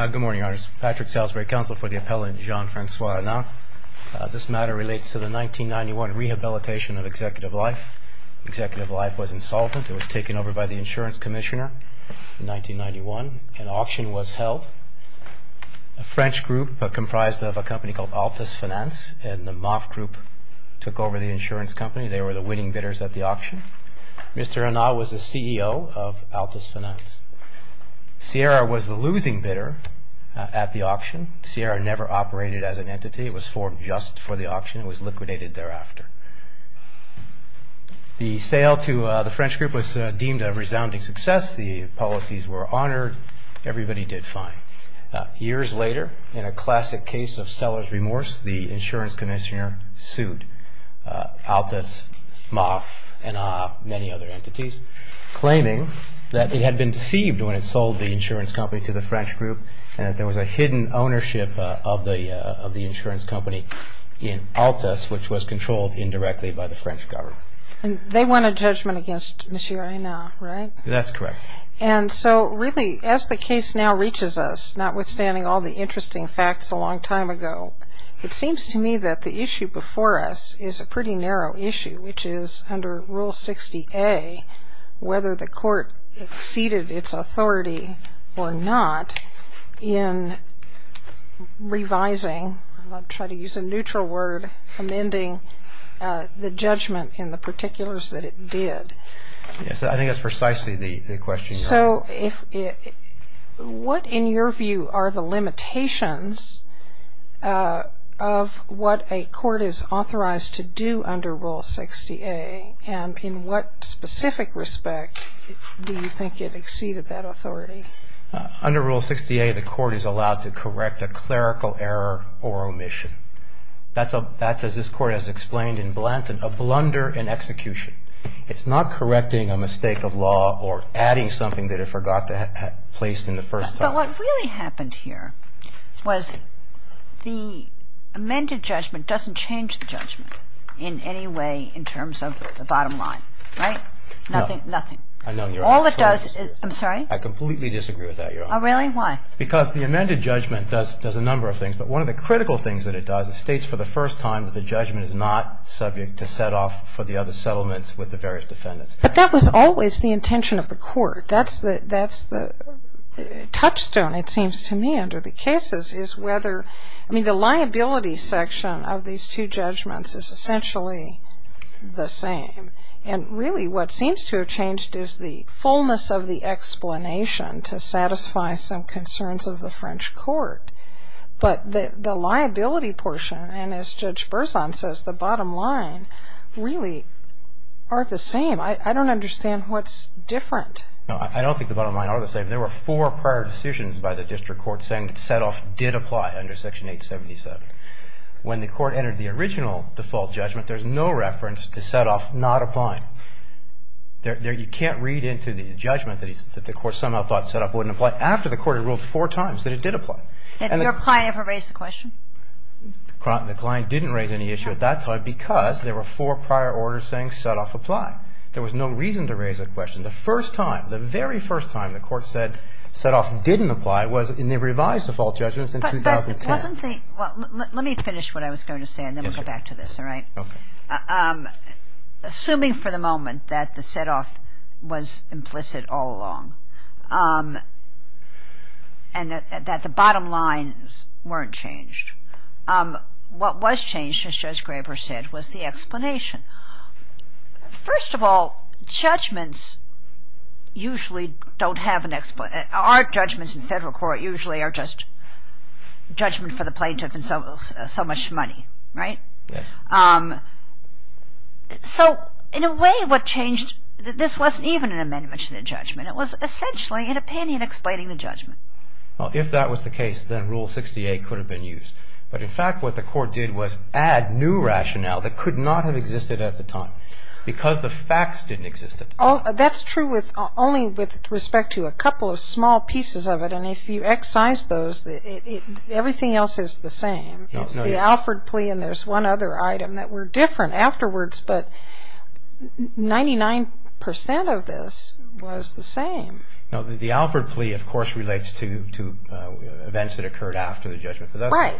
Good morning, Your Honours. Patrick Salisbury, Counsel for the Appellant Jean-Francois Hennin. This matter relates to the 1991 rehabilitation of Executive Life. Executive Life was insolvent. It was taken over by the Insurance Commissioner in 1991. An auction was held. A French group comprised of a company called Altus Finance and the Moff Group took over the insurance company. They were the winning bidders at the auction. Mr. Hennin was the CEO of Altus Finance. Sierra was the losing bidder at the auction. Sierra never operated as an entity. It was formed just for the auction. It was liquidated thereafter. The sale to the French group was deemed a resounding success. The policies were honoured. Everybody did fine. Years later, in a classic case of seller's remorse, the Insurance Commissioner sued Altus, Moff and many other entities, claiming that it had been deceived when it sold the insurance company to the French group and that there was a hidden ownership of the insurance company in Altus, which was controlled indirectly by the French government. And they won a judgment against Monsieur Aina, right? That's correct. And so really, as the case now reaches us, notwithstanding all the interesting facts a long time ago, it seems to me that the issue before us is a pretty narrow issue, which is under Rule 60A, whether the court exceeded its authority or not in revising, I'll try to use a neutral word, amending the judgment in the particulars that it did. Yes, I think that's precisely the question you're asking. What, in your view, are the limitations of what a court is authorized to do under Rule 60A? And in what specific respect do you think it exceeded that authority? Under Rule 60A, the court is allowed to correct a clerical error or omission. That's, as this Court has explained in Blanton, a blunder in execution. It's not correcting a mistake of law or adding something that it forgot to have placed in the first time. But what really happened here was the amended judgment doesn't change the judgment in any way in terms of the bottom line, right? No. Nothing, nothing. I know. All it does is, I'm sorry? I completely disagree with that, Your Honor. Oh, really? Why? Because the amended judgment does a number of things, but one of the critical things that it does is states for the first time that the judgment is not subject to set off for the other settlements with the various defendants. But that was always the intention of the court. That's the touchstone, it seems to me, under the cases is whether, I mean, the liability section of these two judgments is essentially the same. And really what seems to have changed is the fullness of the explanation to satisfy some concerns of the French court. But the liability portion, and as Judge Berzon says, the bottom line really aren't the same. I don't understand what's different. No, I don't think the bottom line are the same. There were four prior decisions by the district court saying that set off did apply under Section 877. When the court entered the original default judgment, there's no reference to set off not applying. You can't read into the judgment that the court somehow thought set off wouldn't apply but after the court had ruled four times that it did apply. Had your client ever raised the question? The client didn't raise any issue at that time because there were four prior orders saying set off apply. There was no reason to raise the question. The first time, the very first time the court said set off didn't apply was in the revised default judgments in 2010. Let me finish what I was going to say and then we'll go back to this, all right? Okay. Assuming for the moment that the set off was implicit all along and that the bottom lines weren't changed, what was changed, as Judge Graber said, was the explanation. First of all, judgments usually don't have an explanation. Our judgments in federal court usually are just judgment for the plaintiff and so much money, right? Yes. So in a way, what changed, this wasn't even an amendment to the judgment. It was essentially an opinion explaining the judgment. Well, if that was the case, then Rule 68 could have been used. But in fact, what the court did was add new rationale that could not have existed at the time because the facts didn't exist at the time. Oh, that's true only with respect to a couple of small pieces of it and if you excise those, everything else is the same. It's the Alford plea and there's one other item that were different afterwards, but 99% of this was the same. No, the Alford plea, of course, relates to events that occurred after the judgment. Right.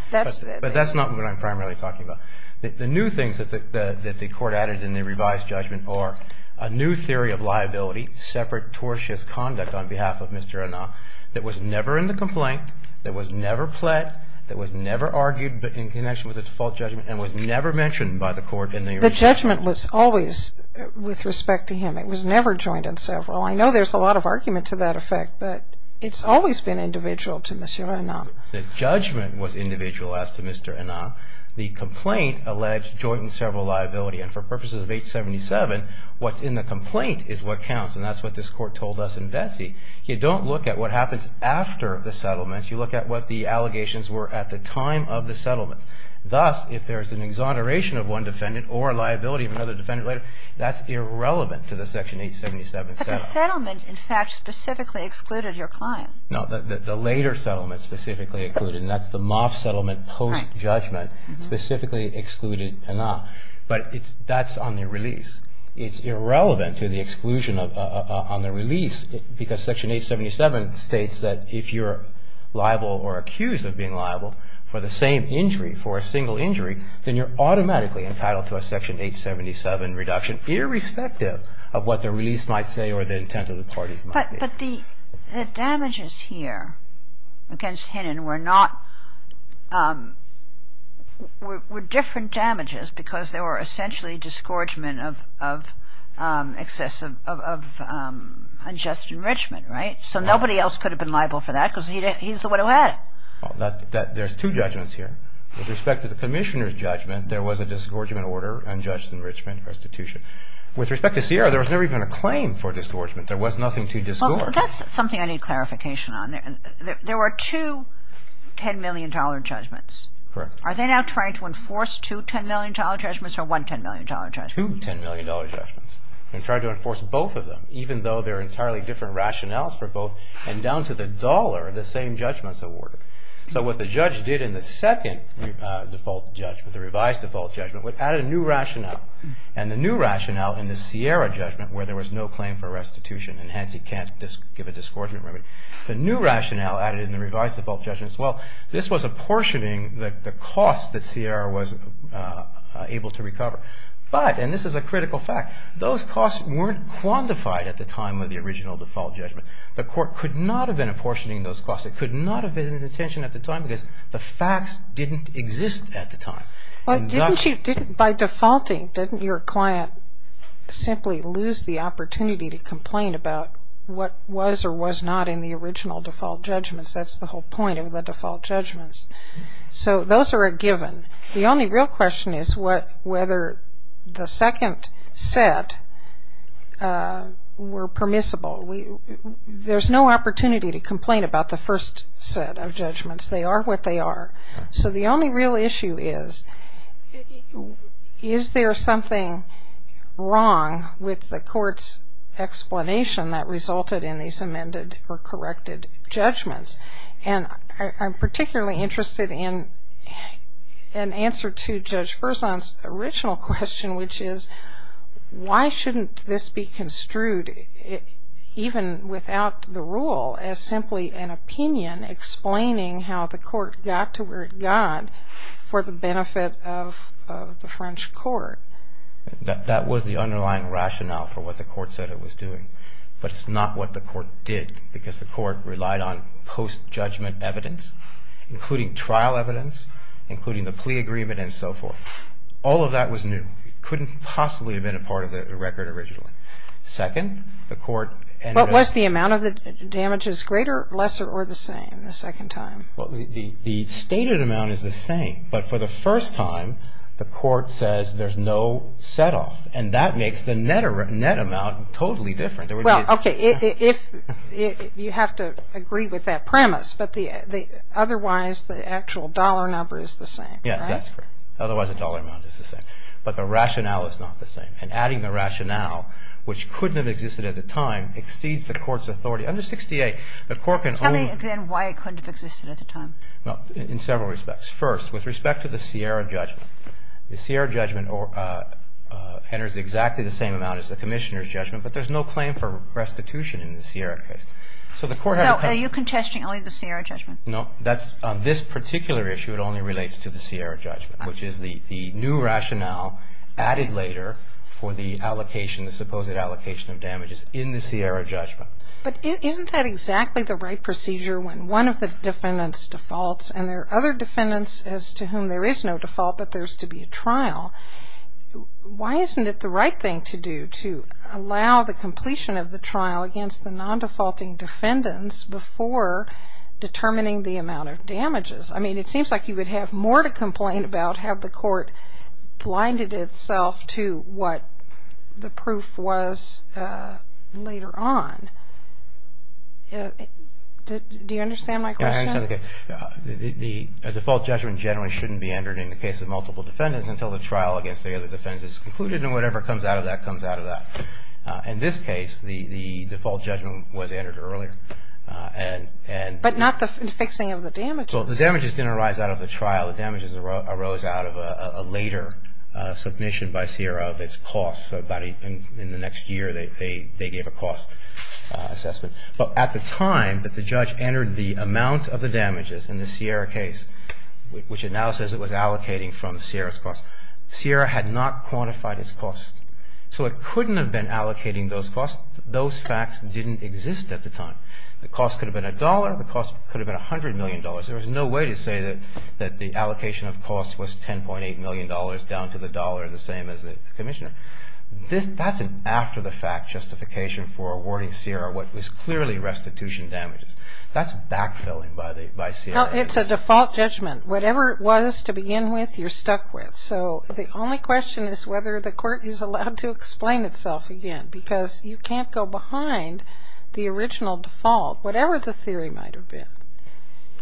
But that's not what I'm primarily talking about. The new things that the court added in the revised judgment are a new theory of liability, separate tortious conduct on behalf of Mr. Anah, that was never in the complaint, that was never pled, that was never argued in connection with the default judgment and was never mentioned by the court in the original. The judgment was always with respect to him. It was never joined in several. I know there's a lot of argument to that effect, but it's always been individual to Mr. Anah. The judgment was individual as to Mr. Anah. The complaint alleged joint and several liability. And for purposes of 877, what's in the complaint is what counts and that's what this court told us in Vesey. You don't look at what happens after the settlement. You look at what the allegations were at the time of the settlement. Thus, if there's an exoneration of one defendant or liability of another defendant later, that's irrelevant to the Section 877 settlement. But the settlement, in fact, specifically excluded your client. No, the later settlement specifically included, and that's the Moff settlement post-judgment, specifically excluded Anah. But that's on the release. It's irrelevant to the exclusion on the release because Section 877 states that if you're liable or accused of being liable for the same injury, for a single injury, then you're automatically entitled to a Section 877 reduction, irrespective of what the release might say or the intent of the parties might be. But the damages here against Hinnon were not – were different damages because they were essentially disgorgement of unjust enrichment, right? So nobody else could have been liable for that because he's the one who had it. Well, there's two judgments here. With respect to the Commissioner's judgment, there was a disgorgement order, unjust enrichment, restitution. With respect to Sierra, there was never even a claim for disgorgement. There was nothing to disgore. Well, that's something I need clarification on. There were two $10 million judgments. Correct. Are they now trying to enforce two $10 million judgments or one $10 million judgment? Two $10 million judgments. They're trying to enforce both of them, even though they're entirely different rationales for both. And down to the dollar, the same judgment's awarded. So what the judge did in the second default judgment, the revised default judgment, was added a new rationale. And the new rationale in the Sierra judgment, where there was no claim for restitution, and hence he can't give a disgorgement remedy, the new rationale added in the revised default judgment is, well, this was apportioning the cost that Sierra was able to recover. But, and this is a critical fact, those costs weren't quantified at the time of the original default judgment. The court could not have been apportioning those costs. It could not have been his intention at the time because the facts didn't exist at the time. By defaulting, didn't your client simply lose the opportunity to complain about what was or was not in the original default judgments? That's the whole point of the default judgments. So those are a given. The only real question is whether the second set were permissible. There's no opportunity to complain about the first set of judgments. They are what they are. So the only real issue is, is there something wrong with the court's explanation that resulted in these amended or corrected judgments? And I'm particularly interested in an answer to Judge Berzon's original question, which is why shouldn't this be construed, even without the rule, as simply an opinion explaining how the court got to where it got for the benefit of the French court? That was the underlying rationale for what the court said it was doing. But it's not what the court did because the court relied on post-judgment evidence, including trial evidence, including the plea agreement and so forth. All of that was new. It couldn't possibly have been a part of the record originally. What was the amount of the damages, greater, lesser, or the same the second time? The stated amount is the same. But for the first time, the court says there's no set-off. And that makes the net amount totally different. Well, okay, you have to agree with that premise. But otherwise, the actual dollar number is the same, right? Yes, that's correct. Otherwise, the dollar amount is the same. But the rationale is not the same. And adding the rationale, which couldn't have existed at the time, exceeds the court's authority. Under 68, the court can only... Tell me, again, why it couldn't have existed at the time. Well, in several respects. First, with respect to the Sierra judgment, the Sierra judgment enters exactly the same amount as the Commissioner's judgment. But there's no claim for restitution in the Sierra case. So the court had to... So are you contesting only the Sierra judgment? No. On this particular issue, it only relates to the Sierra judgment, which is the new rationale added later for the allocation, the supposed allocation of damages in the Sierra judgment. But isn't that exactly the right procedure when one of the defendants defaults and there are other defendants as to whom there is no default but there's to be a trial? Why isn't it the right thing to do to allow the completion of the trial against the non-defaulting defendants before determining the amount of damages? I mean, it seems like you would have more to complain about had the court blinded itself to what the proof was later on. Do you understand my question? The default judgment generally shouldn't be entered in the case of multiple defendants until the trial against the other defendants is concluded, and whatever comes out of that comes out of that. In this case, the default judgment was entered earlier. But not the fixing of the damages. Well, the damages didn't arise out of the trial. The damages arose out of a later submission by Sierra of its costs. In the next year, they gave a cost assessment. At the time that the judge entered the amount of the damages in the Sierra case, which it now says it was allocating from Sierra's costs, Sierra had not quantified its costs. So it couldn't have been allocating those costs. Those facts didn't exist at the time. The cost could have been a dollar. The cost could have been $100 million. There was no way to say that the allocation of costs was $10.8 million down to the dollar the same as the commissioner. That's an after-the-fact justification for awarding Sierra what was clearly restitution damages. That's backfilling by Sierra. Well, it's a default judgment. Whatever it was to begin with, you're stuck with. So the only question is whether the court is allowed to explain itself again because you can't go behind the original default, whatever the theory might have been.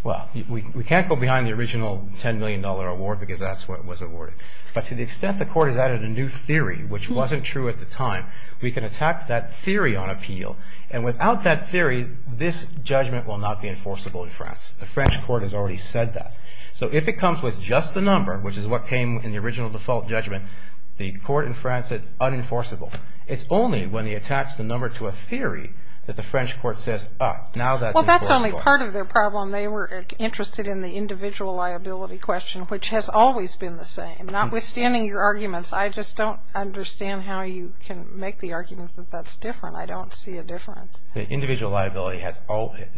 Well, we can't go behind the original $10 million award because that's what was awarded. But to the extent the court has added a new theory, which wasn't true at the time, we can attack that theory on appeal. And without that theory, this judgment will not be enforceable in France. The French court has already said that. So if it comes with just the number, which is what came in the original default judgment, the court in France said unenforceable. It's only when they attach the number to a theory that the French court says, ah, now that's enforceable. Well, that's only part of their problem. They were interested in the individual liability question, which has always been the same. Notwithstanding your arguments, I just don't understand how you can make the argument that that's different. I don't see a difference. The individual liability has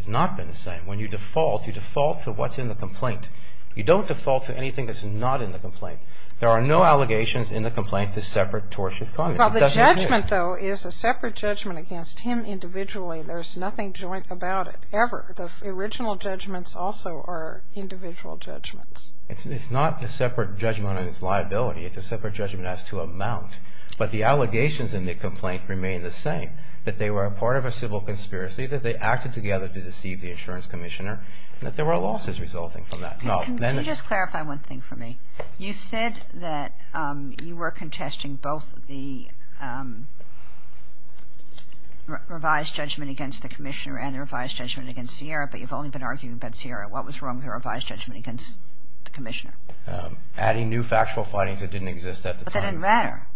not been the same. When you default, you default to what's in the complaint. You don't default to anything that's not in the complaint. There are no allegations in the complaint to separate tortious comment. Well, the judgment, though, is a separate judgment against him individually. There's nothing joint about it, ever. The original judgments also are individual judgments. It's not a separate judgment on his liability. It's a separate judgment as to amount. But the allegations in the complaint remain the same, that they were a part of a civil conspiracy, that they acted together to deceive the insurance commissioner, and that there were losses resulting from that. Can you just clarify one thing for me? You said that you were contesting both the revised judgment against the commissioner and the revised judgment against Sierra, but you've only been arguing about Sierra. What was wrong with your revised judgment against the commissioner? Adding new factual findings that didn't exist at the time. But that didn't matter.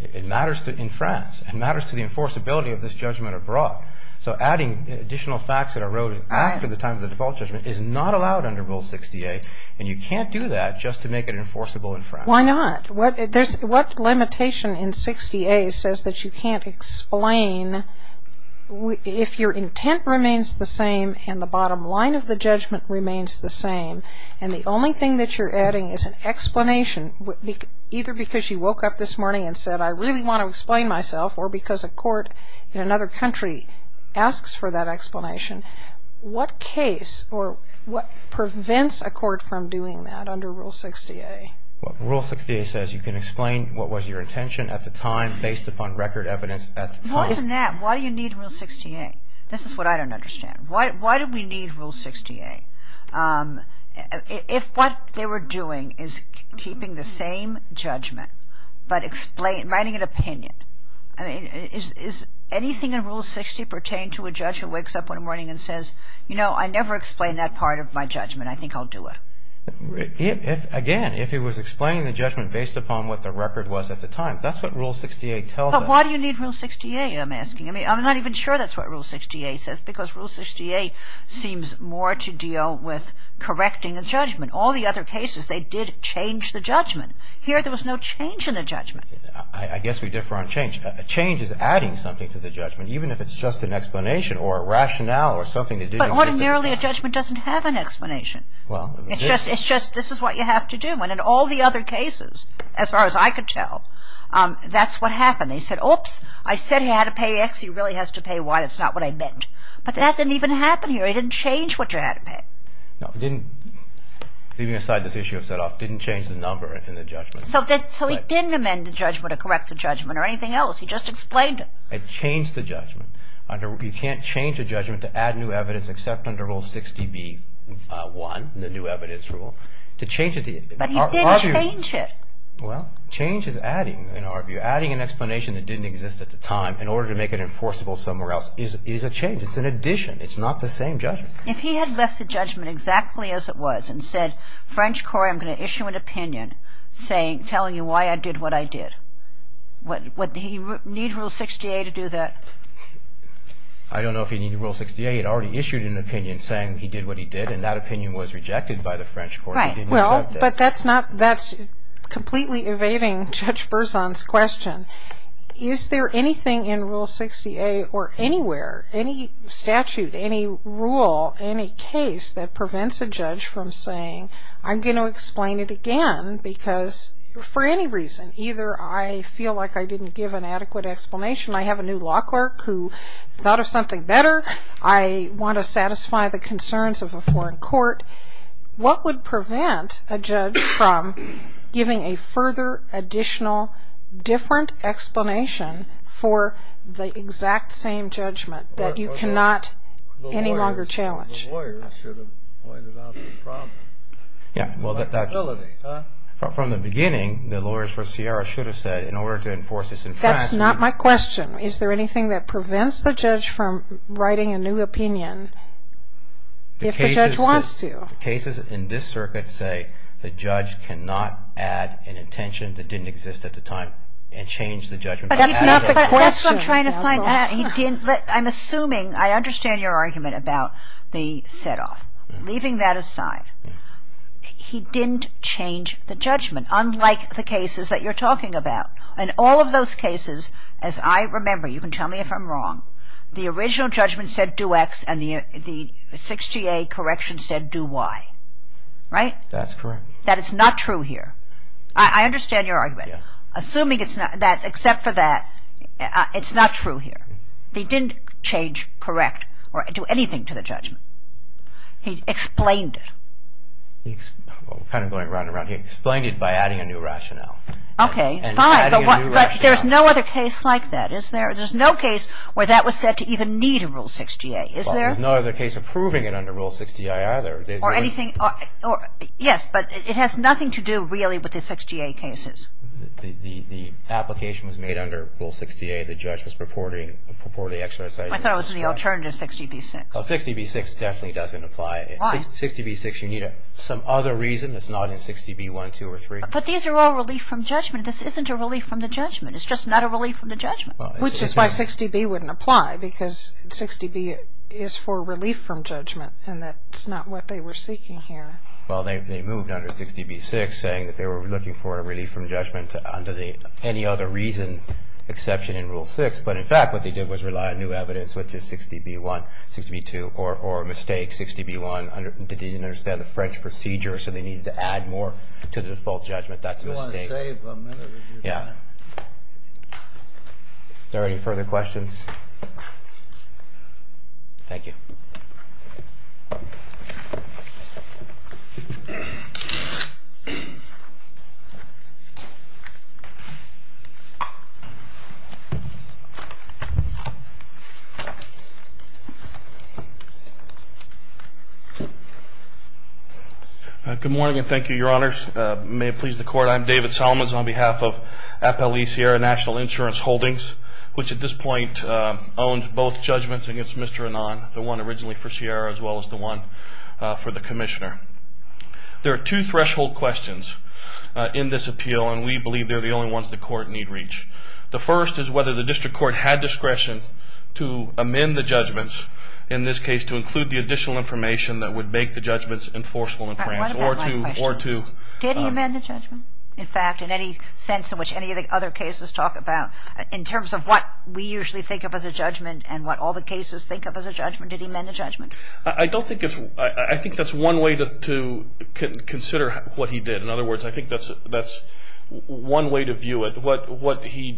It matters in France. It matters to the enforceability of this judgment abroad. So adding additional facts that arose after the time of the default judgment is not allowed under Rule 60A, and you can't do that just to make it enforceable in France. Why not? What limitation in 60A says that you can't explain if your intent remains the same and the bottom line of the judgment remains the same, and the only thing that you're adding is an explanation, either because you woke up this morning and said, I really want to explain myself, or because a court in another country asks for that explanation. What case or what prevents a court from doing that under Rule 60A? Rule 60A says you can explain what was your intention at the time based upon record evidence at the time. More than that, why do you need Rule 60A? This is what I don't understand. Why do we need Rule 60A? If what they were doing is keeping the same judgment but writing an opinion, is anything in Rule 60 pertain to a judge who wakes up one morning and says, you know, I never explained that part of my judgment. I think I'll do it. Again, if he was explaining the judgment based upon what the record was at the time, that's what Rule 60A tells us. But why do you need Rule 60A, I'm asking. I'm not even sure that's what Rule 60A says, because Rule 60A seems more to deal with correcting a judgment. All the other cases, they did change the judgment. Here there was no change in the judgment. I guess we differ on change. A change is adding something to the judgment, even if it's just an explanation or a rationale or something to do with it. But ordinarily a judgment doesn't have an explanation. It's just this is what you have to do. And in all the other cases, as far as I could tell, that's what happened. He said, oops, I said he had to pay X. He really has to pay Y. That's not what I meant. But that didn't even happen here. He didn't change what you had to pay. No, he didn't. Leaving aside this issue of set-off, didn't change the number in the judgment. So he didn't amend the judgment or correct the judgment or anything else. He just explained it. It changed the judgment. You can't change a judgment to add new evidence except under Rule 60B-1, the new evidence rule, to change it. But he didn't change it. Well, change is adding, in our view. Adding an explanation that didn't exist at the time in order to make it enforceable somewhere else is a change. It's an addition. It's not the same judgment. If he had left the judgment exactly as it was and said, French Court, I'm going to issue an opinion telling you why I did what I did, would he need Rule 68 to do that? I don't know if he'd need Rule 68. He'd already issued an opinion saying he did what he did, and that opinion was rejected by the French Court. But that's completely evading Judge Berzon's question. Is there anything in Rule 68 or anywhere, any statute, any rule, any case that prevents a judge from saying, I'm going to explain it again because for any reason, either I feel like I didn't give an adequate explanation, I have a new law clerk who thought of something better, I want to satisfy the concerns of a foreign court, what would prevent a judge from giving a further, additional, different explanation for the exact same judgment that you cannot any longer challenge? The lawyers should have pointed out the problem. Yeah, well, from the beginning, the lawyers for Sierra should have said, in order to enforce this in France. That's not my question. Is there anything that prevents the judge from writing a new opinion if the judge wants to? The cases in this circuit say the judge cannot add an intention that didn't exist at the time and change the judgment. But that's not the question. That's what I'm trying to find out. I'm assuming, I understand your argument about the setoff. Leaving that aside, he didn't change the judgment, unlike the cases that you're talking about. In all of those cases, as I remember, you can tell me if I'm wrong, the original judgment said do X and the 6GA correction said do Y. Right? That's correct. That is not true here. I understand your argument. Assuming it's not, except for that, it's not true here. They didn't change, correct, or do anything to the judgment. He explained it. Kind of going round and round here. He explained it by adding a new rationale. Okay, fine. But there's no other case like that, is there? There's no case where that was said to even need a Rule 6GA, is there? Well, there's no other case approving it under Rule 6GI either. Or anything, yes, but it has nothing to do really with the 6GA cases. The application was made under Rule 6GA. The judge was purporting the exercise. I thought it was in the alternative 60B6. 60B6 definitely doesn't apply. Why? 60B6, you need some other reason that's not in 60B1, 2, or 3. But these are all relief from judgment. This isn't a relief from the judgment. It's just not a relief from the judgment. Which is why 60B wouldn't apply, because 60B is for relief from judgment, and that's not what they were seeking here. Well, they moved under 60B6, saying that they were looking for a relief from judgment under the any other reason exception in Rule 6, but in fact what they did was rely on new evidence, which is 60B1, 60B2, or a mistake, 60B1. They didn't understand the French procedure, so they needed to add more to the default judgment. That's a mistake. Yeah. Are there any further questions? Thank you. Good morning, and thank you, Your Honors. May it please the Court, I'm David Solomons on behalf of FLE Sierra National Insurance Holdings, which at this point owns both judgments against Mr. Annan, the one originally for Sierra as well as the one for the Commissioner. There are two threshold questions in this appeal, and we believe they're the only ones the Court need reach. The first is whether the District Court had discretion to amend the judgments, in this case to include the additional information that would make the judgments enforceable in France, or to... Did he amend the judgment? In fact, in any sense in which any of the other cases talk about, in terms of what we usually think of as a judgment and what all the cases think of as a judgment, did he amend the judgment? I don't think it's... I think that's one way to consider what he did. In other words, I think that's one way to view it. What he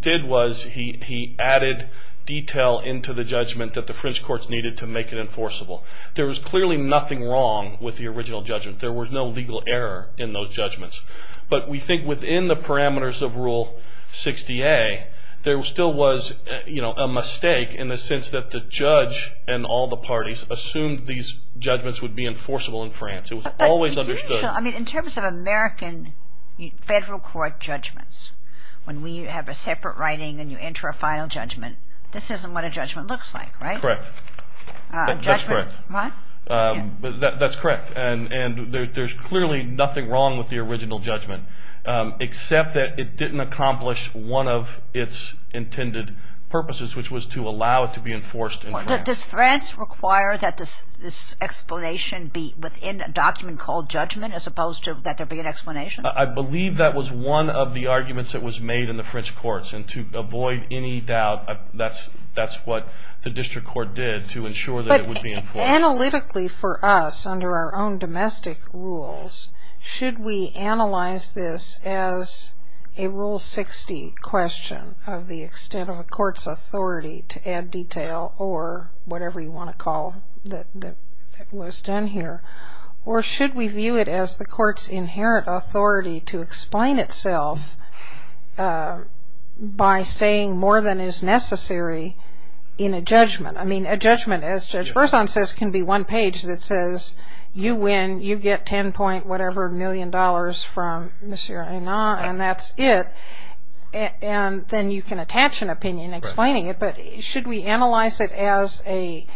did was he added detail into the judgment that the French courts needed to make it enforceable. There was clearly nothing wrong with the original judgment. There was no legal error in those judgments. But we think within the parameters of Rule 60A, there still was a mistake in the sense that the judge and all the parties assumed these judgments would be enforceable in France. It was always understood... In terms of American Federal Court judgments, when we have a separate writing and you enter a final judgment, this isn't what a judgment looks like, right? Correct. That's correct. What? That's correct. And there's clearly nothing wrong with the original judgment, except that it didn't accomplish one of its intended purposes, which was to allow it to be enforced in France. Does France require that this explanation be within a document called judgment, as opposed to that there be an explanation? I believe that was one of the arguments that was made in the French courts. And to avoid any doubt, that's what the district court did to ensure that it would be enforced. Analytically for us, under our own domestic rules, should we analyze this as a Rule 60 question of the extent of a court's authority to add detail or whatever you want to call it that was done here? Or should we view it as the court's inherent authority to explain itself by saying more than is necessary in a judgment? I mean, a judgment, as Judge Berzon says, can be one page that says, you win, you get 10 point whatever million dollars from Monsieur Aina, and that's it. And then you can attach an opinion explaining it. But should we analyze it as a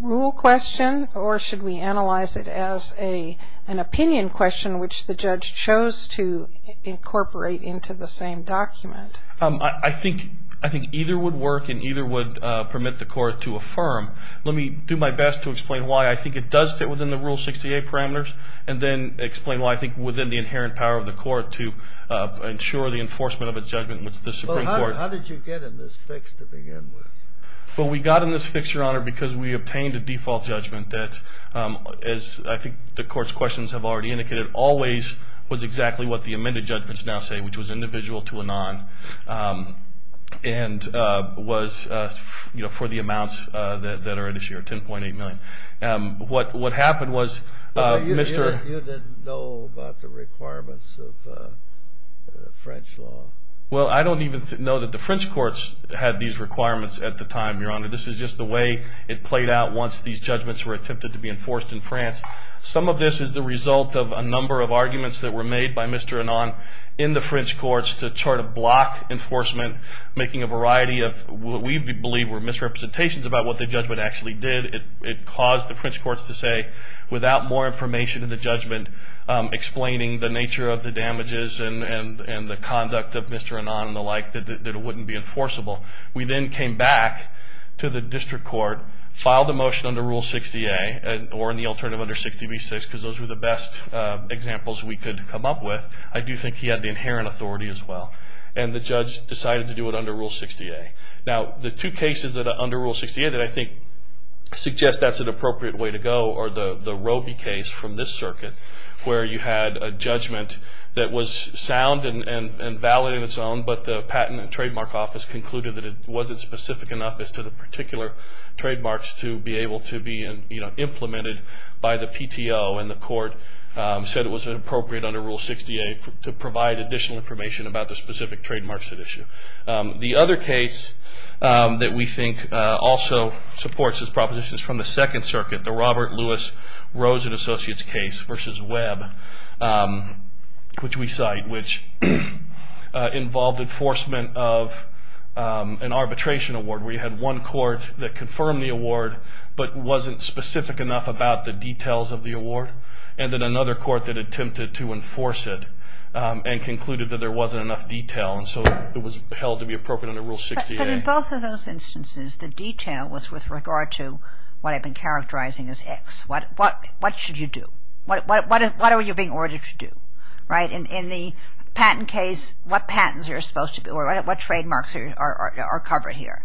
rule question? Or should we analyze it as an opinion question, which the judge chose to incorporate into the same document? I think either would work and either would permit the court to affirm. Let me do my best to explain why I think it does fit within the Rule 68 parameters and then explain why I think within the inherent power of the court to ensure the enforcement of a judgment with the Supreme Court. Well, how did you get in this fix to begin with? Well, we got in this fix, Your Honor, because we obtained a default judgment that, as I think the court's questions have already indicated, always was exactly what the amended judgments now say, which was individual to a non, and was for the amounts that are in this year, 10.8 million. What happened was, Mr. You didn't know about the requirements of French law. Well, I don't even know that the French courts had these requirements at the time, Your Honor. This is just the way it played out once these judgments were attempted to be enforced in France. Some of this is the result of a number of arguments that were made by Mr. in the French courts to try to block enforcement, making a variety of what we believe were misrepresentations about what the judgment actually did. It caused the French courts to say, without more information in the judgment, explaining the nature of the damages and the conduct of Mr. and the like, that it wouldn't be enforceable. We then came back to the district court, filed a motion under Rule 60A or in the alternative under 60B6, because those were the best examples we could come up with. I do think he had the inherent authority as well. And the judge decided to do it under Rule 60A. Now, the two cases under Rule 60A that I think suggest that's an appropriate way to go are the Robie case from this circuit, where you had a judgment that was sound and valid in its own, but the patent and trademark office concluded that it wasn't specific enough as to the particular trademarks to be able to be implemented by the PTO. And the court said it was inappropriate under Rule 60A to provide additional information about the specific trademarks at issue. The other case that we think also supports his propositions from the second circuit, the Robert Lewis Rosen Associates case versus Webb, which we cite, which involved enforcement of an arbitration award, where you had one court that confirmed the award, but wasn't specific enough about the details of the award, and then another court that attempted to enforce it and concluded that there wasn't enough detail, and so it was held to be appropriate under Rule 60A. But in both of those instances, the detail was with regard to what I've been characterizing as X. What should you do? What are you being ordered to do, right? In the patent case, what patents are supposed to be, or what trademarks are covered here,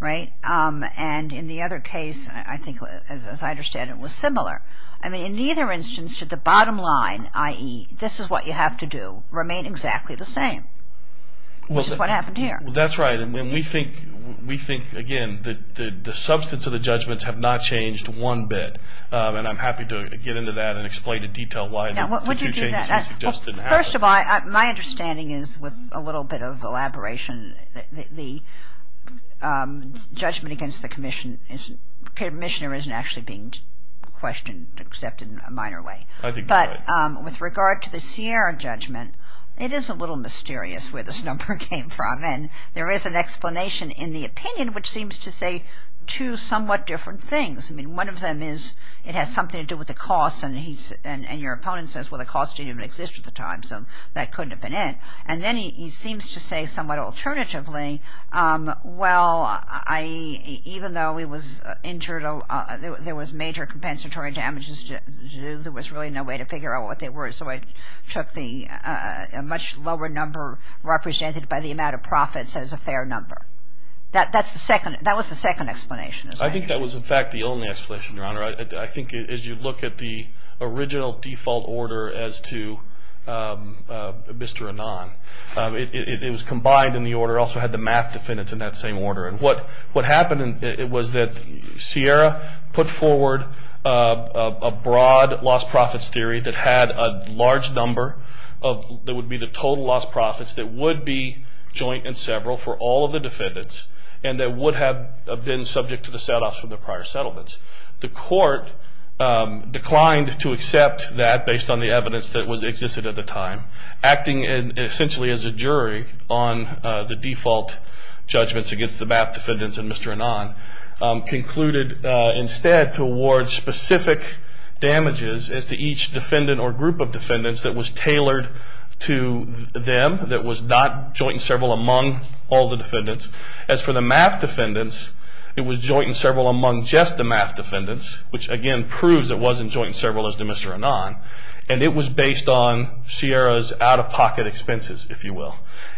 right? And in the other case, I think, as I understand it, it was similar. I mean, in either instance, should the bottom line, i.e., this is what you have to do, remain exactly the same, which is what happened here. That's right, and we think, again, that the substance of the judgments have not changed one bit, and I'm happy to get into that and explain in detail why the two changes just didn't happen. First of all, my understanding is, with a little bit of elaboration, that the judgment against the commissioner isn't actually being questioned, except in a minor way. But with regard to the Sierra judgment, it is a little mysterious where this number came from, and there is an explanation in the opinion which seems to say two somewhat different things. I mean, one of them is it has something to do with the cost, and your opponent says, well, the cost didn't even exist at the time, so that couldn't have been it. And then he seems to say somewhat alternatively, well, even though he was injured, there was major compensatory damages to do, there was really no way to figure out what they were, so it took a much lower number represented by the amount of profits as a fair number. That was the second explanation. I think that was, in fact, the only explanation, Your Honor. I think as you look at the original default order as to Mr. Anon, it was combined in the order. It also had the math defendants in that same order. And what happened was that Sierra put forward a broad lost profits theory that had a large number that would be the total lost profits that would be joint and several for all of the defendants and that would have been subject to the set-offs from the prior settlements. The court declined to accept that based on the evidence that existed at the time, acting essentially as a jury on the default judgments against the math defendants and Mr. Anon, concluded instead to award specific damages as to each defendant or group of defendants that was tailored to them, that was not joint and several among all the defendants. As for the math defendants, it was joint and several among just the math defendants, which again proves it wasn't joint and several as to Mr. Anon. And it was based on Sierra's out-of-pocket expenses, if you will.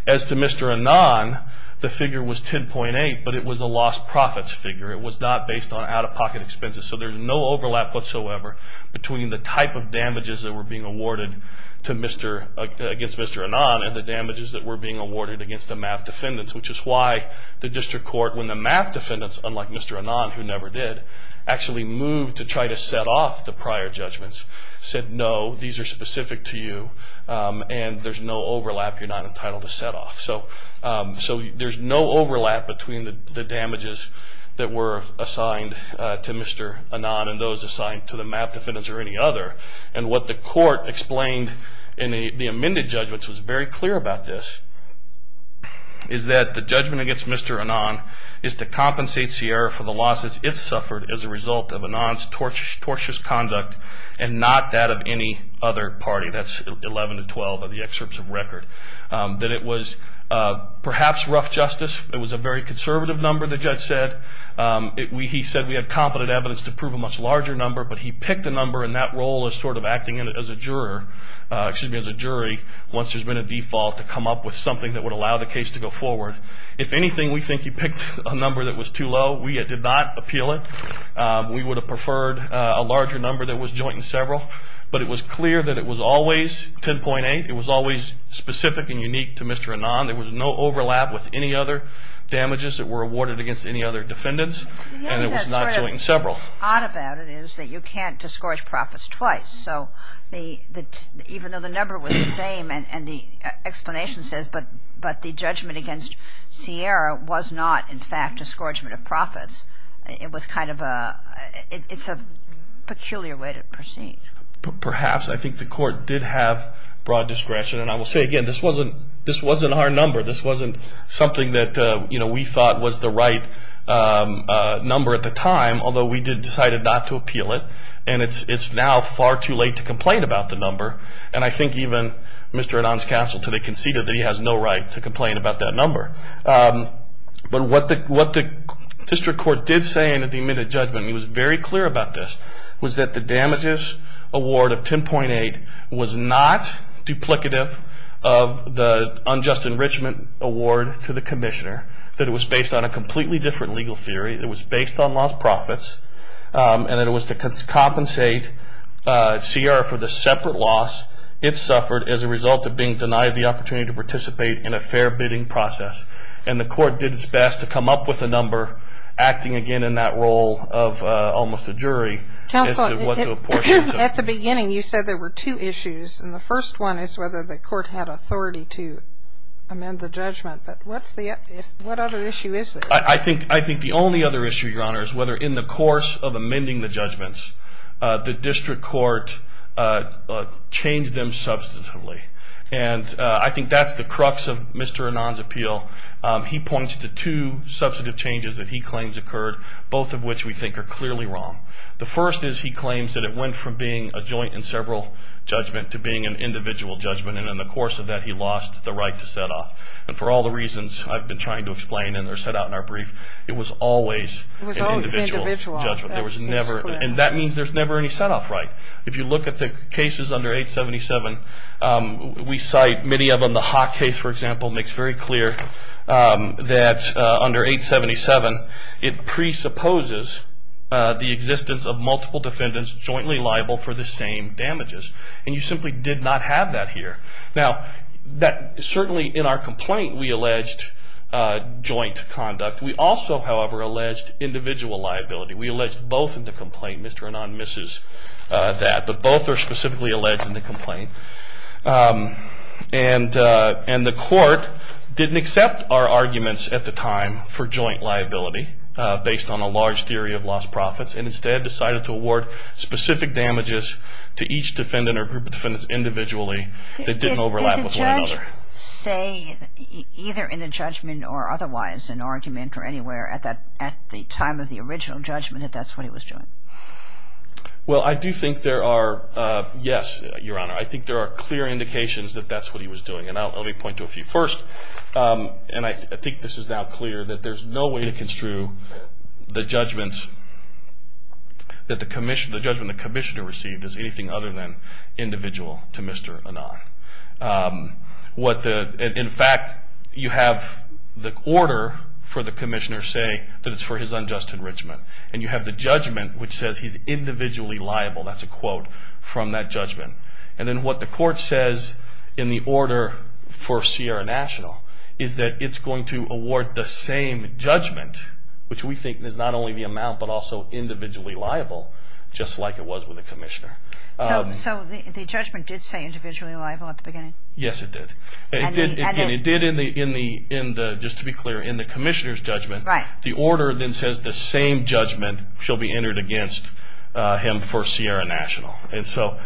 As to Mr. Anon, the figure was 10.8, but it was a lost profits figure. It was not based on out-of-pocket expenses. So there's no overlap whatsoever between the type of damages that were being awarded against Mr. Anon and the damages that were being awarded against the math defendants, which is why the district court, when the math defendants, unlike Mr. Anon, who never did, actually moved to try to set off the prior judgments, said, no, these are specific to you and there's no overlap. You're not entitled to set off. So there's no overlap between the damages that were assigned to Mr. Anon and those assigned to the math defendants or any other. And what the court explained in the amended judgments was very clear about this, is that the judgment against Mr. Anon is to compensate Sierra for the losses it suffered as a result of Anon's tortious conduct and not that of any other party. That's 11 to 12 of the excerpts of record. That it was perhaps rough justice. It was a very conservative number, the judge said. He said we have competent evidence to prove a much larger number, but he picked a number and that role is sort of acting as a jury once there's been a default to come up with something that would allow the case to go forward. If anything, we think he picked a number that was too low. We did not appeal it. We would have preferred a larger number that was joint and several. But it was clear that it was always 10.8. It was always specific and unique to Mr. Anon. There was no overlap with any other damages that were awarded against any other defendants. And it was not joint and several. The odd about it is that you can't discourage profits twice. So even though the number was the same and the explanation says, but the judgment against Sierra was not in fact a discouragement of profits, it was kind of a peculiar way to proceed. Perhaps. I think the court did have broad discretion. And I will say again, this wasn't our number. This wasn't something that we thought was the right number at the time, although we did decide not to appeal it. And it's now far too late to complain about the number. And I think even Mr. Anon's counsel today conceded that he has no right to complain about that number. But what the district court did say in the admitted judgment, and he was very clear about this, was that the damages award of 10.8 was not duplicative of the unjust enrichment award to the commissioner, that it was based on a completely different legal theory. It was based on lost profits. And it was to compensate Sierra for the separate loss it suffered as a result of being denied the opportunity to participate in a fair bidding process. And the court did its best to come up with a number, acting again in that role of almost a jury. Counsel, at the beginning you said there were two issues. And the first one is whether the court had authority to amend the judgment. But what other issue is there? I think the only other issue, Your Honor, is whether in the course of amending the judgments, the district court changed them substantively. And I think that's the crux of Mr. Anon's appeal. He points to two substantive changes that he claims occurred, both of which we think are clearly wrong. The first is he claims that it went from being a joint and several judgment to being an individual judgment. And in the course of that, he lost the right to set off. And for all the reasons I've been trying to explain, and they're set out in our brief, it was always an individual judgment. And that means there's never any set off right. If you look at the cases under 877, we cite many of them. The Hock case, for example, makes very clear that under 877, it presupposes the existence of multiple defendants jointly liable for the same damages. And you simply did not have that here. Now, certainly in our complaint, we alleged joint conduct. We also, however, alleged individual liability. We alleged both in the complaint. Mr. Anon misses that. But both are specifically alleged in the complaint. And the court didn't accept our arguments at the time for joint liability, based on a large theory of lost profits, and instead decided to award specific damages to each defendant or group of defendants individually that didn't overlap with one another. Did the judge say, either in the judgment or otherwise, in argument or anywhere, at the time of the original judgment, that that's what he was doing? Well, I do think there are, yes, Your Honor. I think there are clear indications that that's what he was doing. And let me point to a few. First, and I think this is now clear, that there's no way to construe the judgment that the Commissioner received as anything other than individual to Mr. Anon. In fact, you have the order for the Commissioner say that it's for his unjust enrichment. And you have the judgment, which says he's individually liable. That's a quote from that judgment. And then what the court says in the order for Sierra National is that it's going to award the same judgment, which we think is not only the amount but also individually liable, just like it was with the Commissioner. So the judgment did say individually liable at the beginning? Yes, it did. And it did in the, just to be clear, in the Commissioner's judgment. The order then says the same judgment shall be entered against him for Sierra National. And so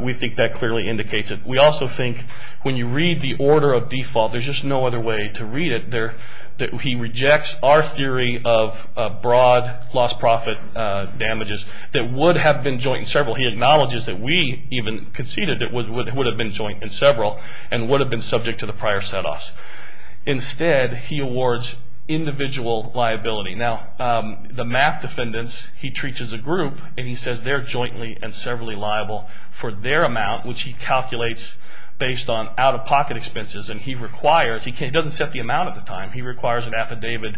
we think that clearly indicates it. We also think when you read the order of default, there's just no other way to read it. He rejects our theory of broad loss-profit damages that would have been joint in several. He acknowledges that we even conceded it would have been joint in several and would have been subject to the prior set-offs. Instead, he awards individual liability. Now, the MAP defendants, he treats as a group, and he says they're jointly and severally liable for their amount, which he calculates based on out-of-pocket expenses. And he requires, he doesn't set the amount at the time, he requires an affidavit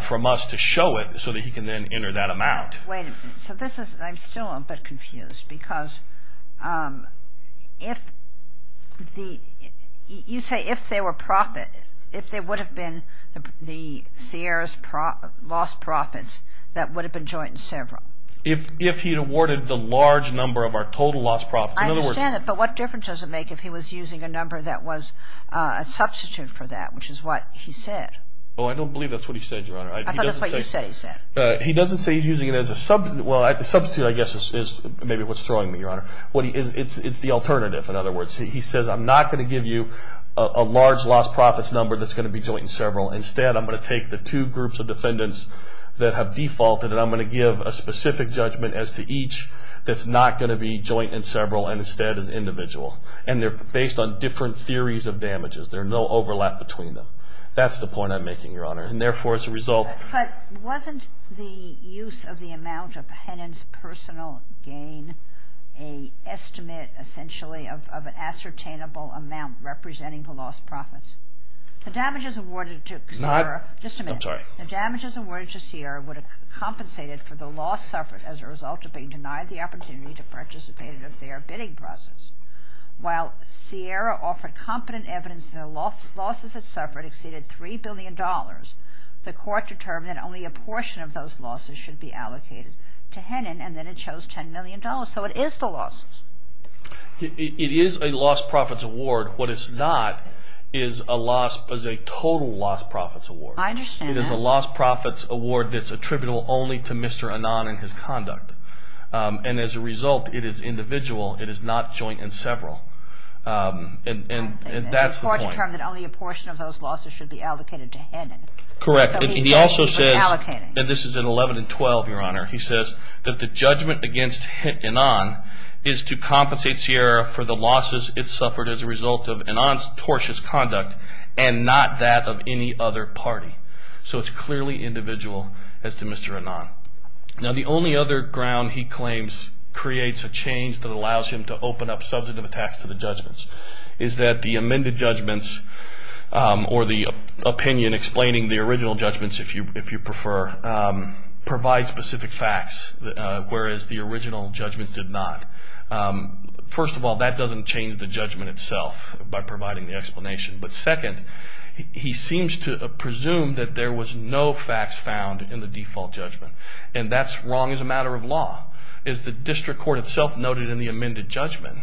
from us to show it so that he can then enter that amount. Wait a minute. So this is, I'm still a bit confused because if the, you say if they were profit, if they would have been the Sierra's loss profits that would have been joint in several. If he had awarded the large number of our total loss profits. I understand that, but what difference does it make if he was using a number that was a substitute for that, which is what he said. Oh, I don't believe that's what he said, Your Honor. I thought that's what you said he said. He doesn't say he's using it as a substitute. Well, a substitute, I guess, is maybe what's throwing me, Your Honor. It's the alternative, in other words. He says I'm not going to give you a large loss profits number that's going to be joint in several. Instead, I'm going to take the two groups of defendants that have defaulted and I'm going to give a specific judgment as to each that's not going to be joint in several and instead is individual. And they're based on different theories of damages. There's no overlap between them. That's the point I'm making, Your Honor. And therefore, as a result. But wasn't the use of the amount of Hennon's personal gain an estimate, essentially, of an ascertainable amount representing the loss profits? The damages awarded to Sierra. Not. Just a minute. I'm sorry. The damages awarded to Sierra would have compensated for the loss suffered as a result of being denied the opportunity to participate in their bidding process. While Sierra offered competent evidence that the losses it suffered exceeded $3 billion, the court determined that only a portion of those losses should be allocated to Hennon and then it chose $10 million. So it is the losses. It is a loss profits award. What it's not is a total loss profits award. I understand that. It is a loss profits award that's attributable only to Mr. Hennon and his conduct. And as a result, it is individual. It is not joint in several. And that's the point. The court determined that only a portion of those losses should be allocated to Hennon. Correct. And he also says, and this is in 11 and 12, Your Honor, he says that the judgment against Hennon is to compensate Sierra for the losses it suffered as a result of Hennon's tortious conduct and not that of any other party. So it's clearly individual as to Mr. Hennon. Now the only other ground he claims creates a change that allows him to open up substantive attacks to the judgments is that the amended judgments or the opinion explaining the original judgments, if you prefer, provides specific facts, whereas the original judgments did not. First of all, that doesn't change the judgment itself by providing the explanation. But second, he seems to presume that there was no facts found in the default judgment. And that's wrong as a matter of law. As the district court itself noted in the amended judgment,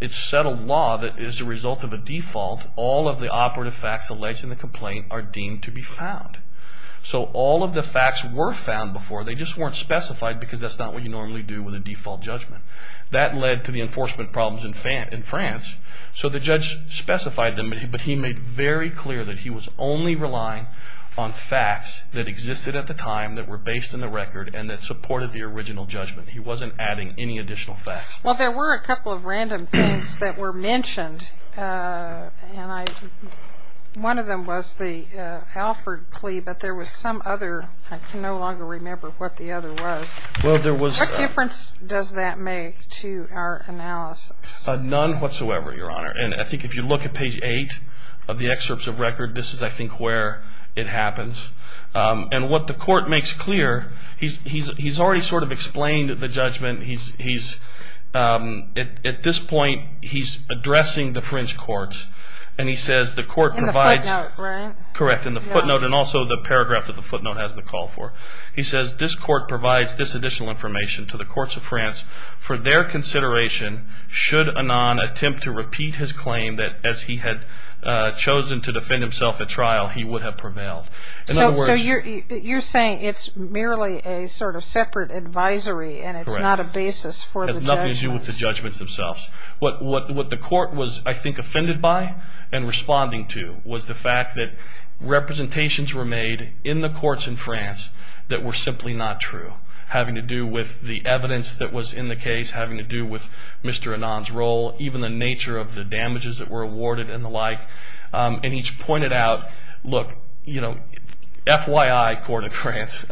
it's settled law that as a result of a default, all of the operative facts alleged in the complaint are deemed to be found. So all of the facts were found before, they just weren't specified because that's not what you normally do with a default judgment. That led to the enforcement problems in France. So the judge specified them, but he made very clear that he was only relying on facts that existed at the time that were based in the record and that supported the original judgment. He wasn't adding any additional facts. Well, there were a couple of random things that were mentioned. One of them was the Alford plea, but there was some other. I can no longer remember what the other was. What difference does that make to our analysis? None whatsoever, Your Honor. And I think if you look at page 8 of the excerpts of record, this is, I think, where it happens. And what the court makes clear, he's already sort of explained the judgment. At this point, he's addressing the French courts, and he says the court provides. In the footnote, right? He says, this court provides this additional information to the courts of France for their consideration should Anon attempt to repeat his claim that as he had chosen to defend himself at trial, he would have prevailed. So you're saying it's merely a sort of separate advisory, and it's not a basis for the judgments. It has nothing to do with the judgments themselves. What the court was, I think, offended by and responding to was the fact that representations were made in the courts in France that were simply not true, having to do with the evidence that was in the case, having to do with Mr. Anon's role, even the nature of the damages that were awarded and the like. And he's pointed out, look, you know, FYI, court of France,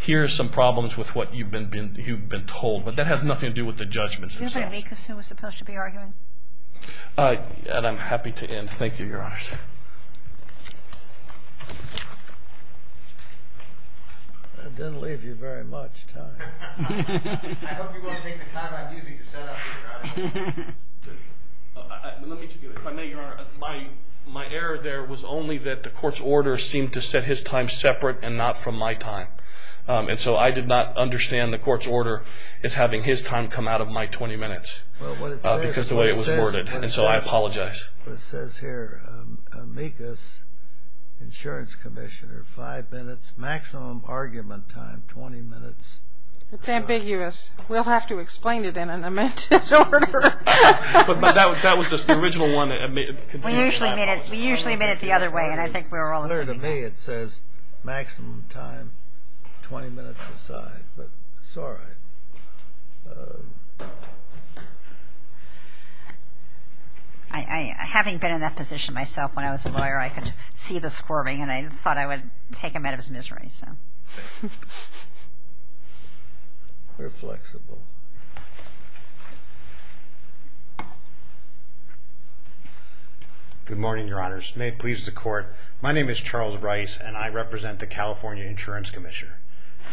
here are some problems with what you've been told, but that has nothing to do with the judgments themselves. And I'm happy to end. Thank you, Your Honor. That didn't leave you very much time. I hope you want to take the time I'm using to set up here, Your Honor. Let me tell you, if I may, Your Honor, my error there was only that the court's order seemed to set his time separate and not from my time. And so I did not understand the court's order as having his time come out of my 20 minutes. Because of the way it was worded. And so I apologize. It says here, amicus, insurance commissioner, five minutes, maximum argument time, 20 minutes. It's ambiguous. We'll have to explain it in an amended order. But that was just the original one. We usually admit it the other way, and I think we're all agreeing. According to me, it says maximum time, 20 minutes aside. But it's all right. Having been in that position myself when I was a lawyer, I could see the squirming, and I thought I would take him out of his misery. We're flexible. May it please the Court. My name is Charles Rice, and I represent the California Insurance Commissioner.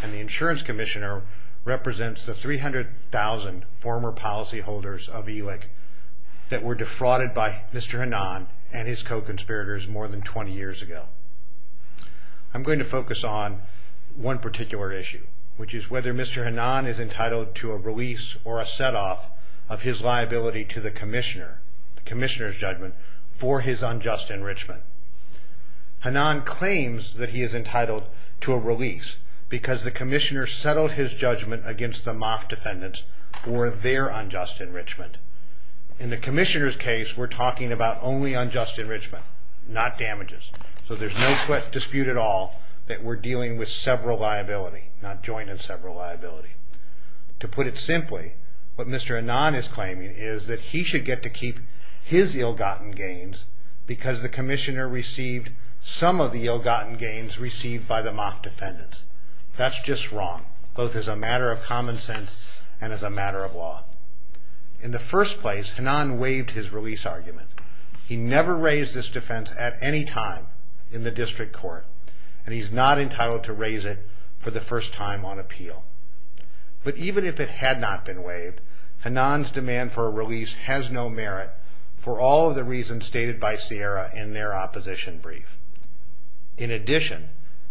And the insurance commissioner represents the 300,000 former policyholders of ELIC that were defrauded by Mr. Hanan and his co-conspirators more than 20 years ago. I'm going to focus on one particular issue, which is whether Mr. Hanan is entitled to a release or a set-off of his liability to the commissioner, the commissioner's judgment, for his unjust enrichment. Hanan claims that he is entitled to a release because the commissioner settled his judgment against the mock defendants for their unjust enrichment. In the commissioner's case, we're talking about only unjust enrichment, not damages. So there's no dispute at all that we're dealing with several liability, not joint and several liability. To put it simply, what Mr. Hanan is claiming is that he should get to keep his ill-gotten gains because the commissioner received some of the ill-gotten gains received by the mock defendants. That's just wrong, both as a matter of common sense and as a matter of law. In the first place, Hanan waived his release argument. He never raised this defense at any time in the district court, and he's not entitled to raise it for the first time on appeal. But even if it had not been waived, Hanan's demand for a release has no merit for all of the reasons stated by Sierra in their opposition brief. In addition,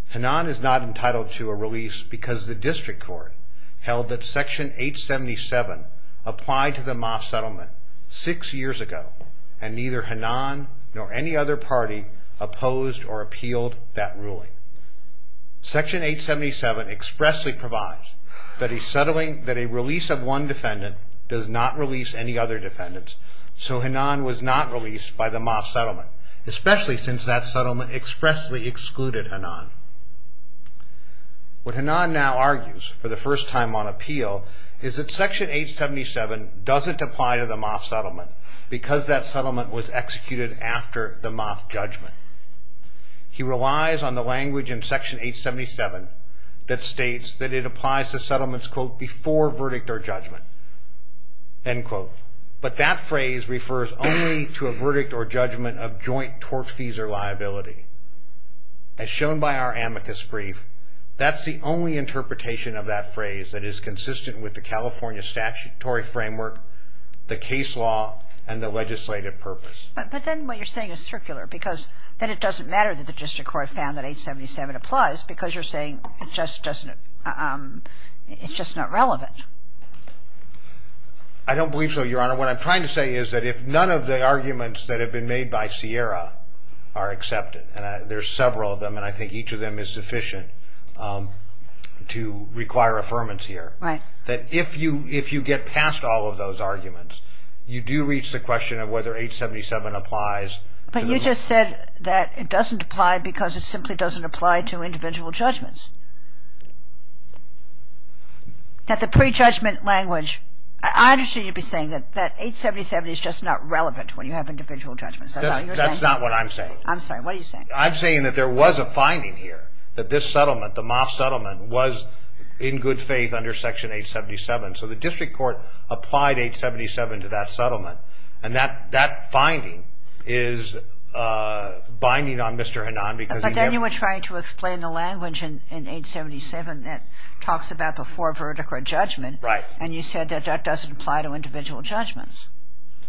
Hanan is not entitled to a release because the district court held that Section 877 applied to the mock settlement six years ago, and neither Hanan nor any other party opposed or appealed that ruling. Section 877 expressly provides that a release of one defendant does not release any other defendants, so Hanan was not released by the mock settlement, especially since that settlement expressly excluded Hanan. What Hanan now argues for the first time on appeal is that Section 877 doesn't apply to the mock settlement because that settlement was executed after the mock judgment. He relies on the language in Section 877 that states that it applies to settlements, quote, before verdict or judgment, end quote. But that phrase refers only to a verdict or judgment of joint tort fees or liability. As shown by our amicus brief, that's the only interpretation of that phrase that is consistent with the California statutory framework, the case law, and the legislative purpose. But then what you're saying is circular, because then it doesn't matter that the district court found that 877 applies because you're saying it just doesn't, it's just not relevant. I don't believe so, Your Honor. What I'm trying to say is that if none of the arguments that have been made by Sierra are accepted, and there's several of them, and I think each of them is sufficient to require affirmance here. Right. That if you get past all of those arguments, you do reach the question of whether 877 applies. But you just said that it doesn't apply because it simply doesn't apply to individual judgments. That the prejudgment language, I understand you'd be saying that 877 is just not relevant when you have individual judgments. That's not what I'm saying. I'm sorry. What are you saying? I'm saying that there was a finding here that this settlement, the mock settlement, was in good faith under Section 877. So the district court applied 877 to that settlement. And that finding is binding on Mr. Hanan. But then you were trying to explain the language in 877 that talks about before verdict or judgment. Right. And you said that that doesn't apply to individual judgments.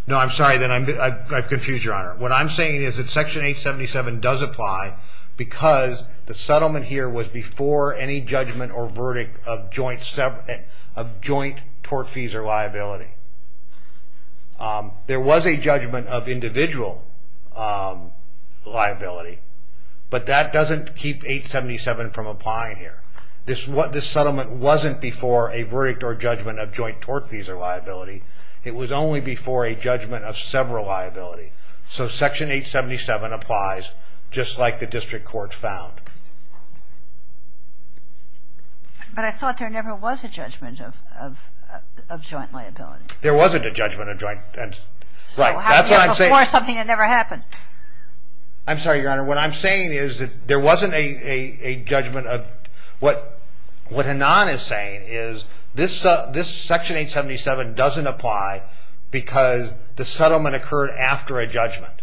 No, I'm sorry. I've confused, Your Honor. What I'm saying is that Section 877 does apply because the settlement here was before any judgment or verdict of joint tort fees or liability. There was a judgment of individual liability. But that doesn't keep 877 from applying here. This settlement wasn't before a verdict or judgment of joint tort fees or liability. It was only before a judgment of several liability. So Section 877 applies just like the district court found. But I thought there never was a judgment of joint liability. There wasn't a judgment of joint. Right. That's what I'm saying. So it happened before something that never happened. I'm sorry, Your Honor. What I'm saying is that there wasn't a judgment of what Hanan is saying is this Section 877 doesn't apply because the settlement occurred after a judgment.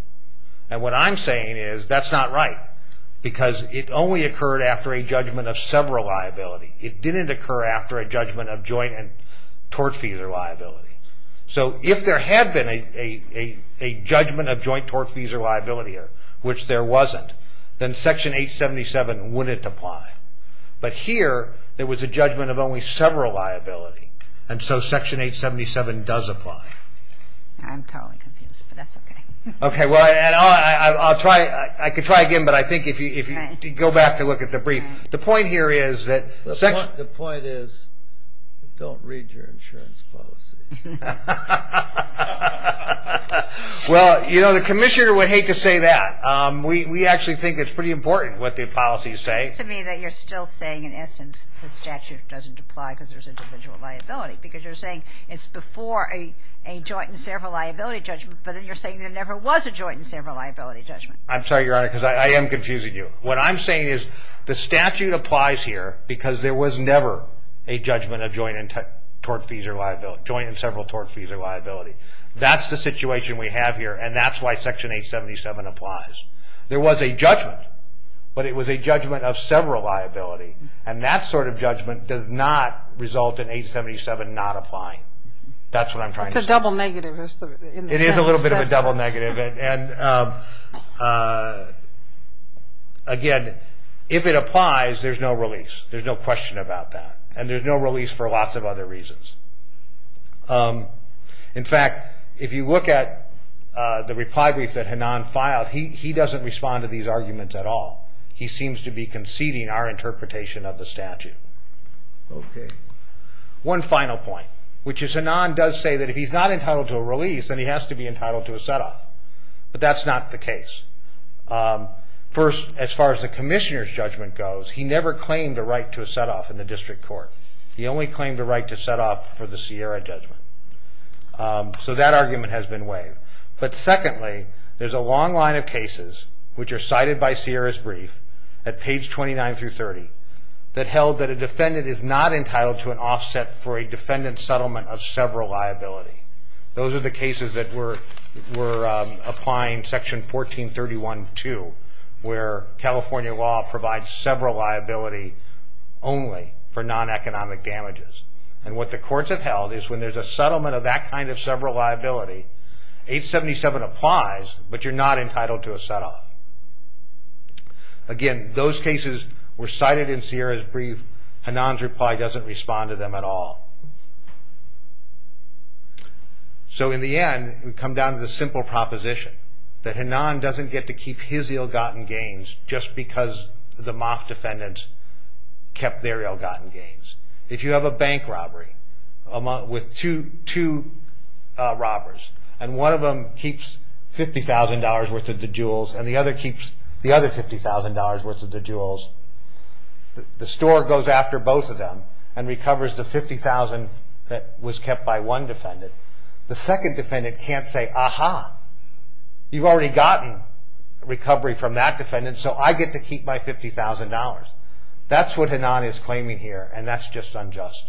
And what I'm saying is that's not right because it only occurred after a judgment of several liability. It didn't occur after a judgment of joint and tort fees or liability. So if there had been a judgment of joint tort fees or liability, which there wasn't, then Section 877 wouldn't apply. But here there was a judgment of only several liability. And so Section 877 does apply. I'm totally confused, but that's okay. Okay. Well, I'll try. I could try again, but I think if you go back to look at the brief. The point here is that the point is don't read your insurance policy. Well, you know, the commissioner would hate to say that. We actually think it's pretty important what the policies say. It seems to me that you're still saying in essence the statute doesn't apply because there's individual liability. Because you're saying it's before a joint and several liability judgment, but then you're saying there never was a joint and several liability judgment. I'm sorry, Your Honor, because I am confusing you. What I'm saying is the statute applies here because there was never a judgment of joint and several tort fees or liability. That's the situation we have here, and that's why Section 877 applies. There was a judgment, but it was a judgment of several liability. And that sort of judgment does not result in 877 not applying. That's what I'm trying to say. It's a double negative. It is a little bit of a double negative. And again, if it applies, there's no release. There's no question about that. And there's no release for lots of other reasons. In fact, if you look at the reply brief that Hanan filed, he doesn't respond to these arguments at all. He seems to be conceding our interpretation of the statute. One final point, which is Hanan does say that if he's not entitled to a release, then he has to be entitled to a set-off. But that's not the case. First, as far as the commissioner's judgment goes, he never claimed a right to a set-off in the district court. He only claimed a right to set-off for the Sierra judgment. So that argument has been waived. But secondly, there's a long line of cases which are cited by Sierra's brief at page 29 through 30 that held that a defendant is not entitled to an offset for a defendant's settlement of several liability. Those are the cases that were applying Section 1431-2, where California law provides several liability only for non-economic damages. And what the courts have held is when there's a settlement of that kind of several liability, 877 applies, but you're not entitled to a set-off. Again, those cases were cited in Sierra's brief. Hanan's reply doesn't respond to them at all. So in the end, we come down to the simple proposition that Hanan doesn't get to keep his ill-gotten gains just because the MOF defendants kept their ill-gotten gains. If you have a bank robbery with two robbers, and one of them keeps $50,000 worth of the jewels, and the other keeps the other $50,000 worth of the jewels, the store goes after both of them and recovers the $50,000 that was kept by one defendant. The second defendant can't say, Aha, you've already gotten recovery from that defendant, so I get to keep my $50,000. That's what Hanan is claiming here, and that's just unjust.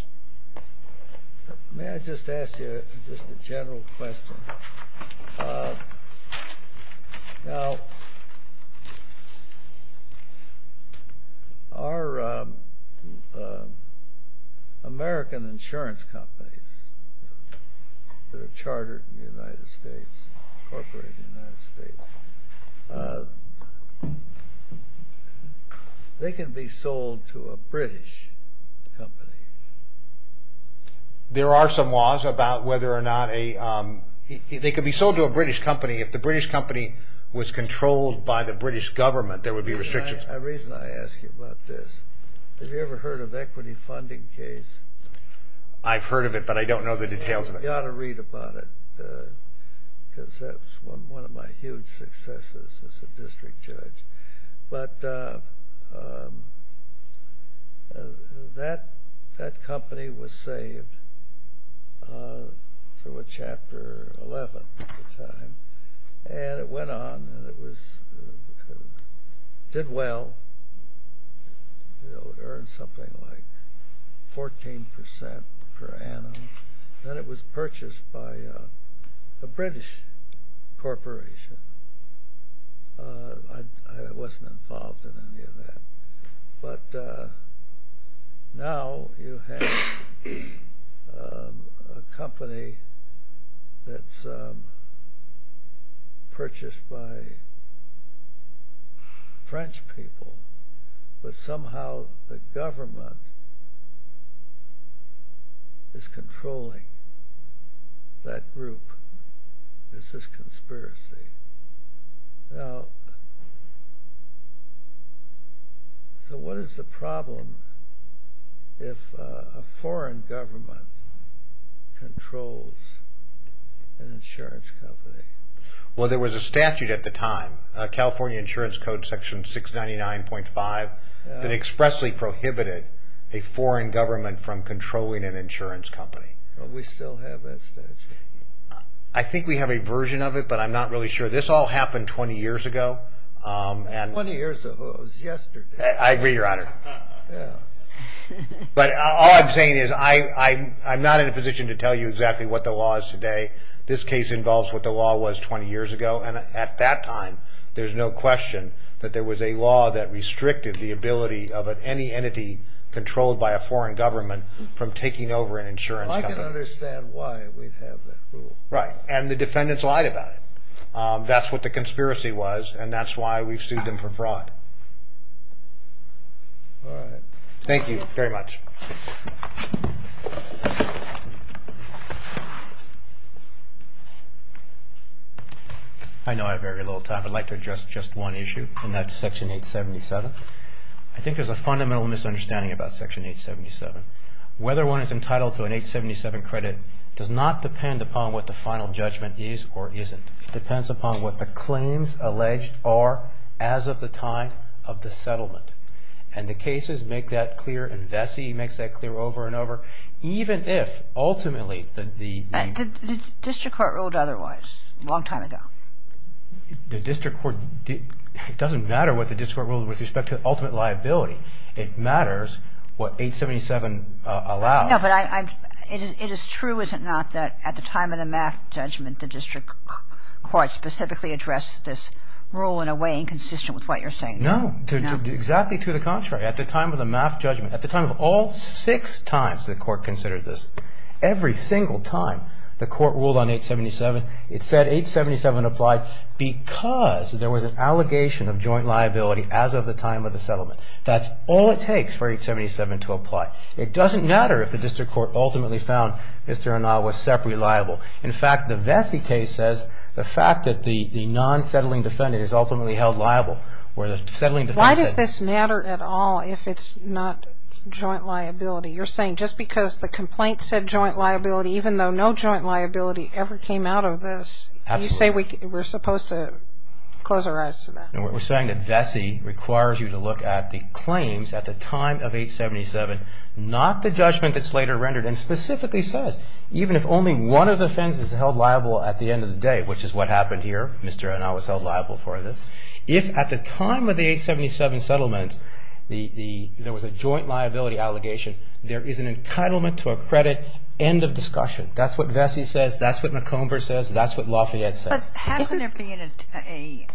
May I just ask you just a general question? Now, our American insurance companies that are chartered in the United States, corporate in the United States, they can be sold to a British company. There are some laws about whether or not they can be sold to a British company. If the British company was controlled by the British government, there would be restrictions. The reason I ask you about this, have you ever heard of equity funding case? I've heard of it, but I don't know the details of it. You ought to read about it because that was one of my huge successes as a district judge. But that company was saved through a Chapter 11 at the time, and it went on and it did well. It earned something like 14% per annum. Then it was purchased by a British corporation. I wasn't involved in any of that. But now you have a company that's purchased by French people, but somehow the government is controlling that group. There's this conspiracy. Now, so what is the problem if a foreign government controls an insurance company? Well, there was a statute at the time, California Insurance Code Section 699.5, that expressly prohibited a foreign government from controlling an insurance company. We still have that statute. I think we have a version of it, but I'm not really sure. This all happened 20 years ago. 20 years ago, it was yesterday. I agree, Your Honor. But all I'm saying is I'm not in a position to tell you exactly what the law is today. This case involves what the law was 20 years ago, and at that time there's no question that there was a law that restricted the ability of any entity controlled by a foreign government from taking over an insurance company. Well, I can understand why we'd have that rule. Right, and the defendants lied about it. That's what the conspiracy was, and that's why we've sued them for fraud. All right. Thank you very much. I know I have very little time. I'd like to address just one issue, and that's Section 877. I think there's a fundamental misunderstanding about Section 877. Whether one is entitled to an 877 credit does not depend upon what the final judgment is or isn't. It depends upon what the claims alleged are as of the time of the settlement. And the cases make that clear, and Vesey makes that clear over and over. Even if, ultimately, the name... The district court ruled otherwise a long time ago. The district court... It doesn't matter what the district court ruled with respect to ultimate liability. It matters what 877 allows. No, but I... It is true, is it not, that at the time of the math judgment, the district court specifically addressed this rule in a way inconsistent with what you're saying? No. Exactly to the contrary. At the time of the math judgment, at the time of all six times the court considered this, every single time the court ruled on 877, it said 877 applied because there was an allegation of joint liability as of the time of the settlement. That's all it takes for 877 to apply. It doesn't matter if the district court ultimately found Mr. Anah was separately liable. In fact, the Vesey case says the fact that the non-settling defendant is ultimately held liable, where the settling defendant... Why does this matter at all if it's not joint liability? You're saying just because the complaint said joint liability, even though no joint liability ever came out of this, you say we're supposed to close our eyes to that? We're saying that Vesey requires you to look at the claims at the time of 877, not the judgment that's later rendered, and specifically says even if only one of the offenses is held liable at the end of the day, which is what happened here, Mr. Anah was held liable for this, if at the time of the 877 settlement there was a joint liability allegation, there is an entitlement to a credit, end of discussion. That's what Vesey says. That's what McComber says. That's what Lafayette says. But hasn't there been a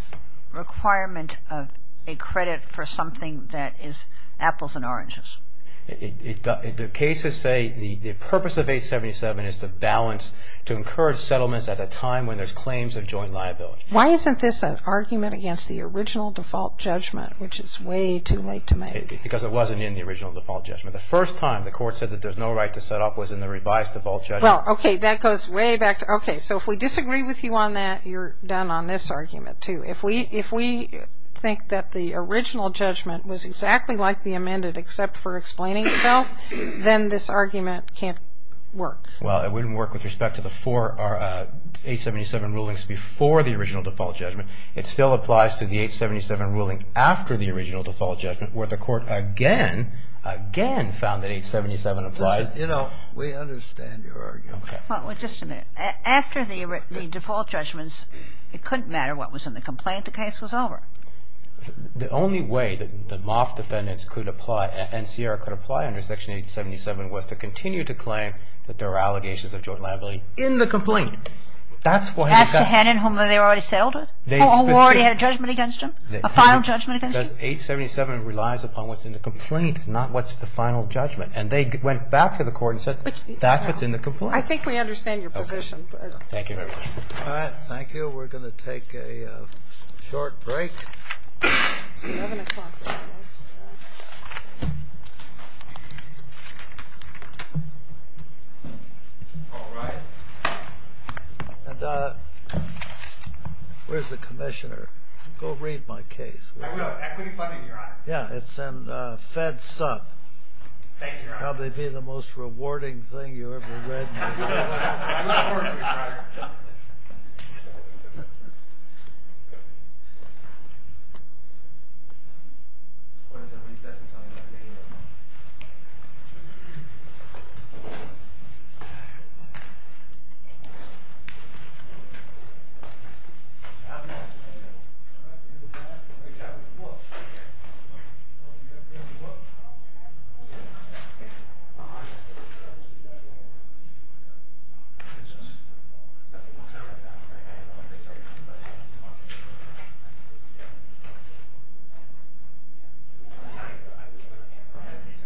requirement of a credit for something that is apples and oranges? The cases say the purpose of 877 is to balance, to encourage settlements at a time when there's claims of joint liability. Why isn't this an argument against the original default judgment, which is way too late to make? Because it wasn't in the original default judgment. The first time the court said that there's no right to set up was in the revised default judgment. Okay, that goes way back. Okay, so if we disagree with you on that, you're done on this argument, too. If we think that the original judgment was exactly like the amended, except for explaining itself, then this argument can't work. Well, it wouldn't work with respect to the four 877 rulings before the original default judgment. It still applies to the 877 ruling after the original default judgment, where the court again, again found that 877 applied. You know, we understand your argument. Okay. Well, just a minute. After the default judgments, it couldn't matter what was in the complaint. The case was over. The only way that the Moff defendants could apply and Sierra could apply under Section 877 was to continue to claim that there were allegations of joint liability in the complaint. That's what they got. As to Hannon, whom they already settled with? Who already had a judgment against him? A final judgment against him? Because 877 relies upon what's in the complaint, not what's the final judgment. And they went back to the court and said, that's what's in the complaint. I think we understand your position. Thank you. All right, thank you. We're going to take a short break. Where's the commissioner? Go read my case. Equity Funding, Your Honor. Yeah, it's in Fed Sub. Thank you, Your Honor. That would probably be the most rewarding thing you ever read in your life. That's a point of recess until 11 a.m. Thank you.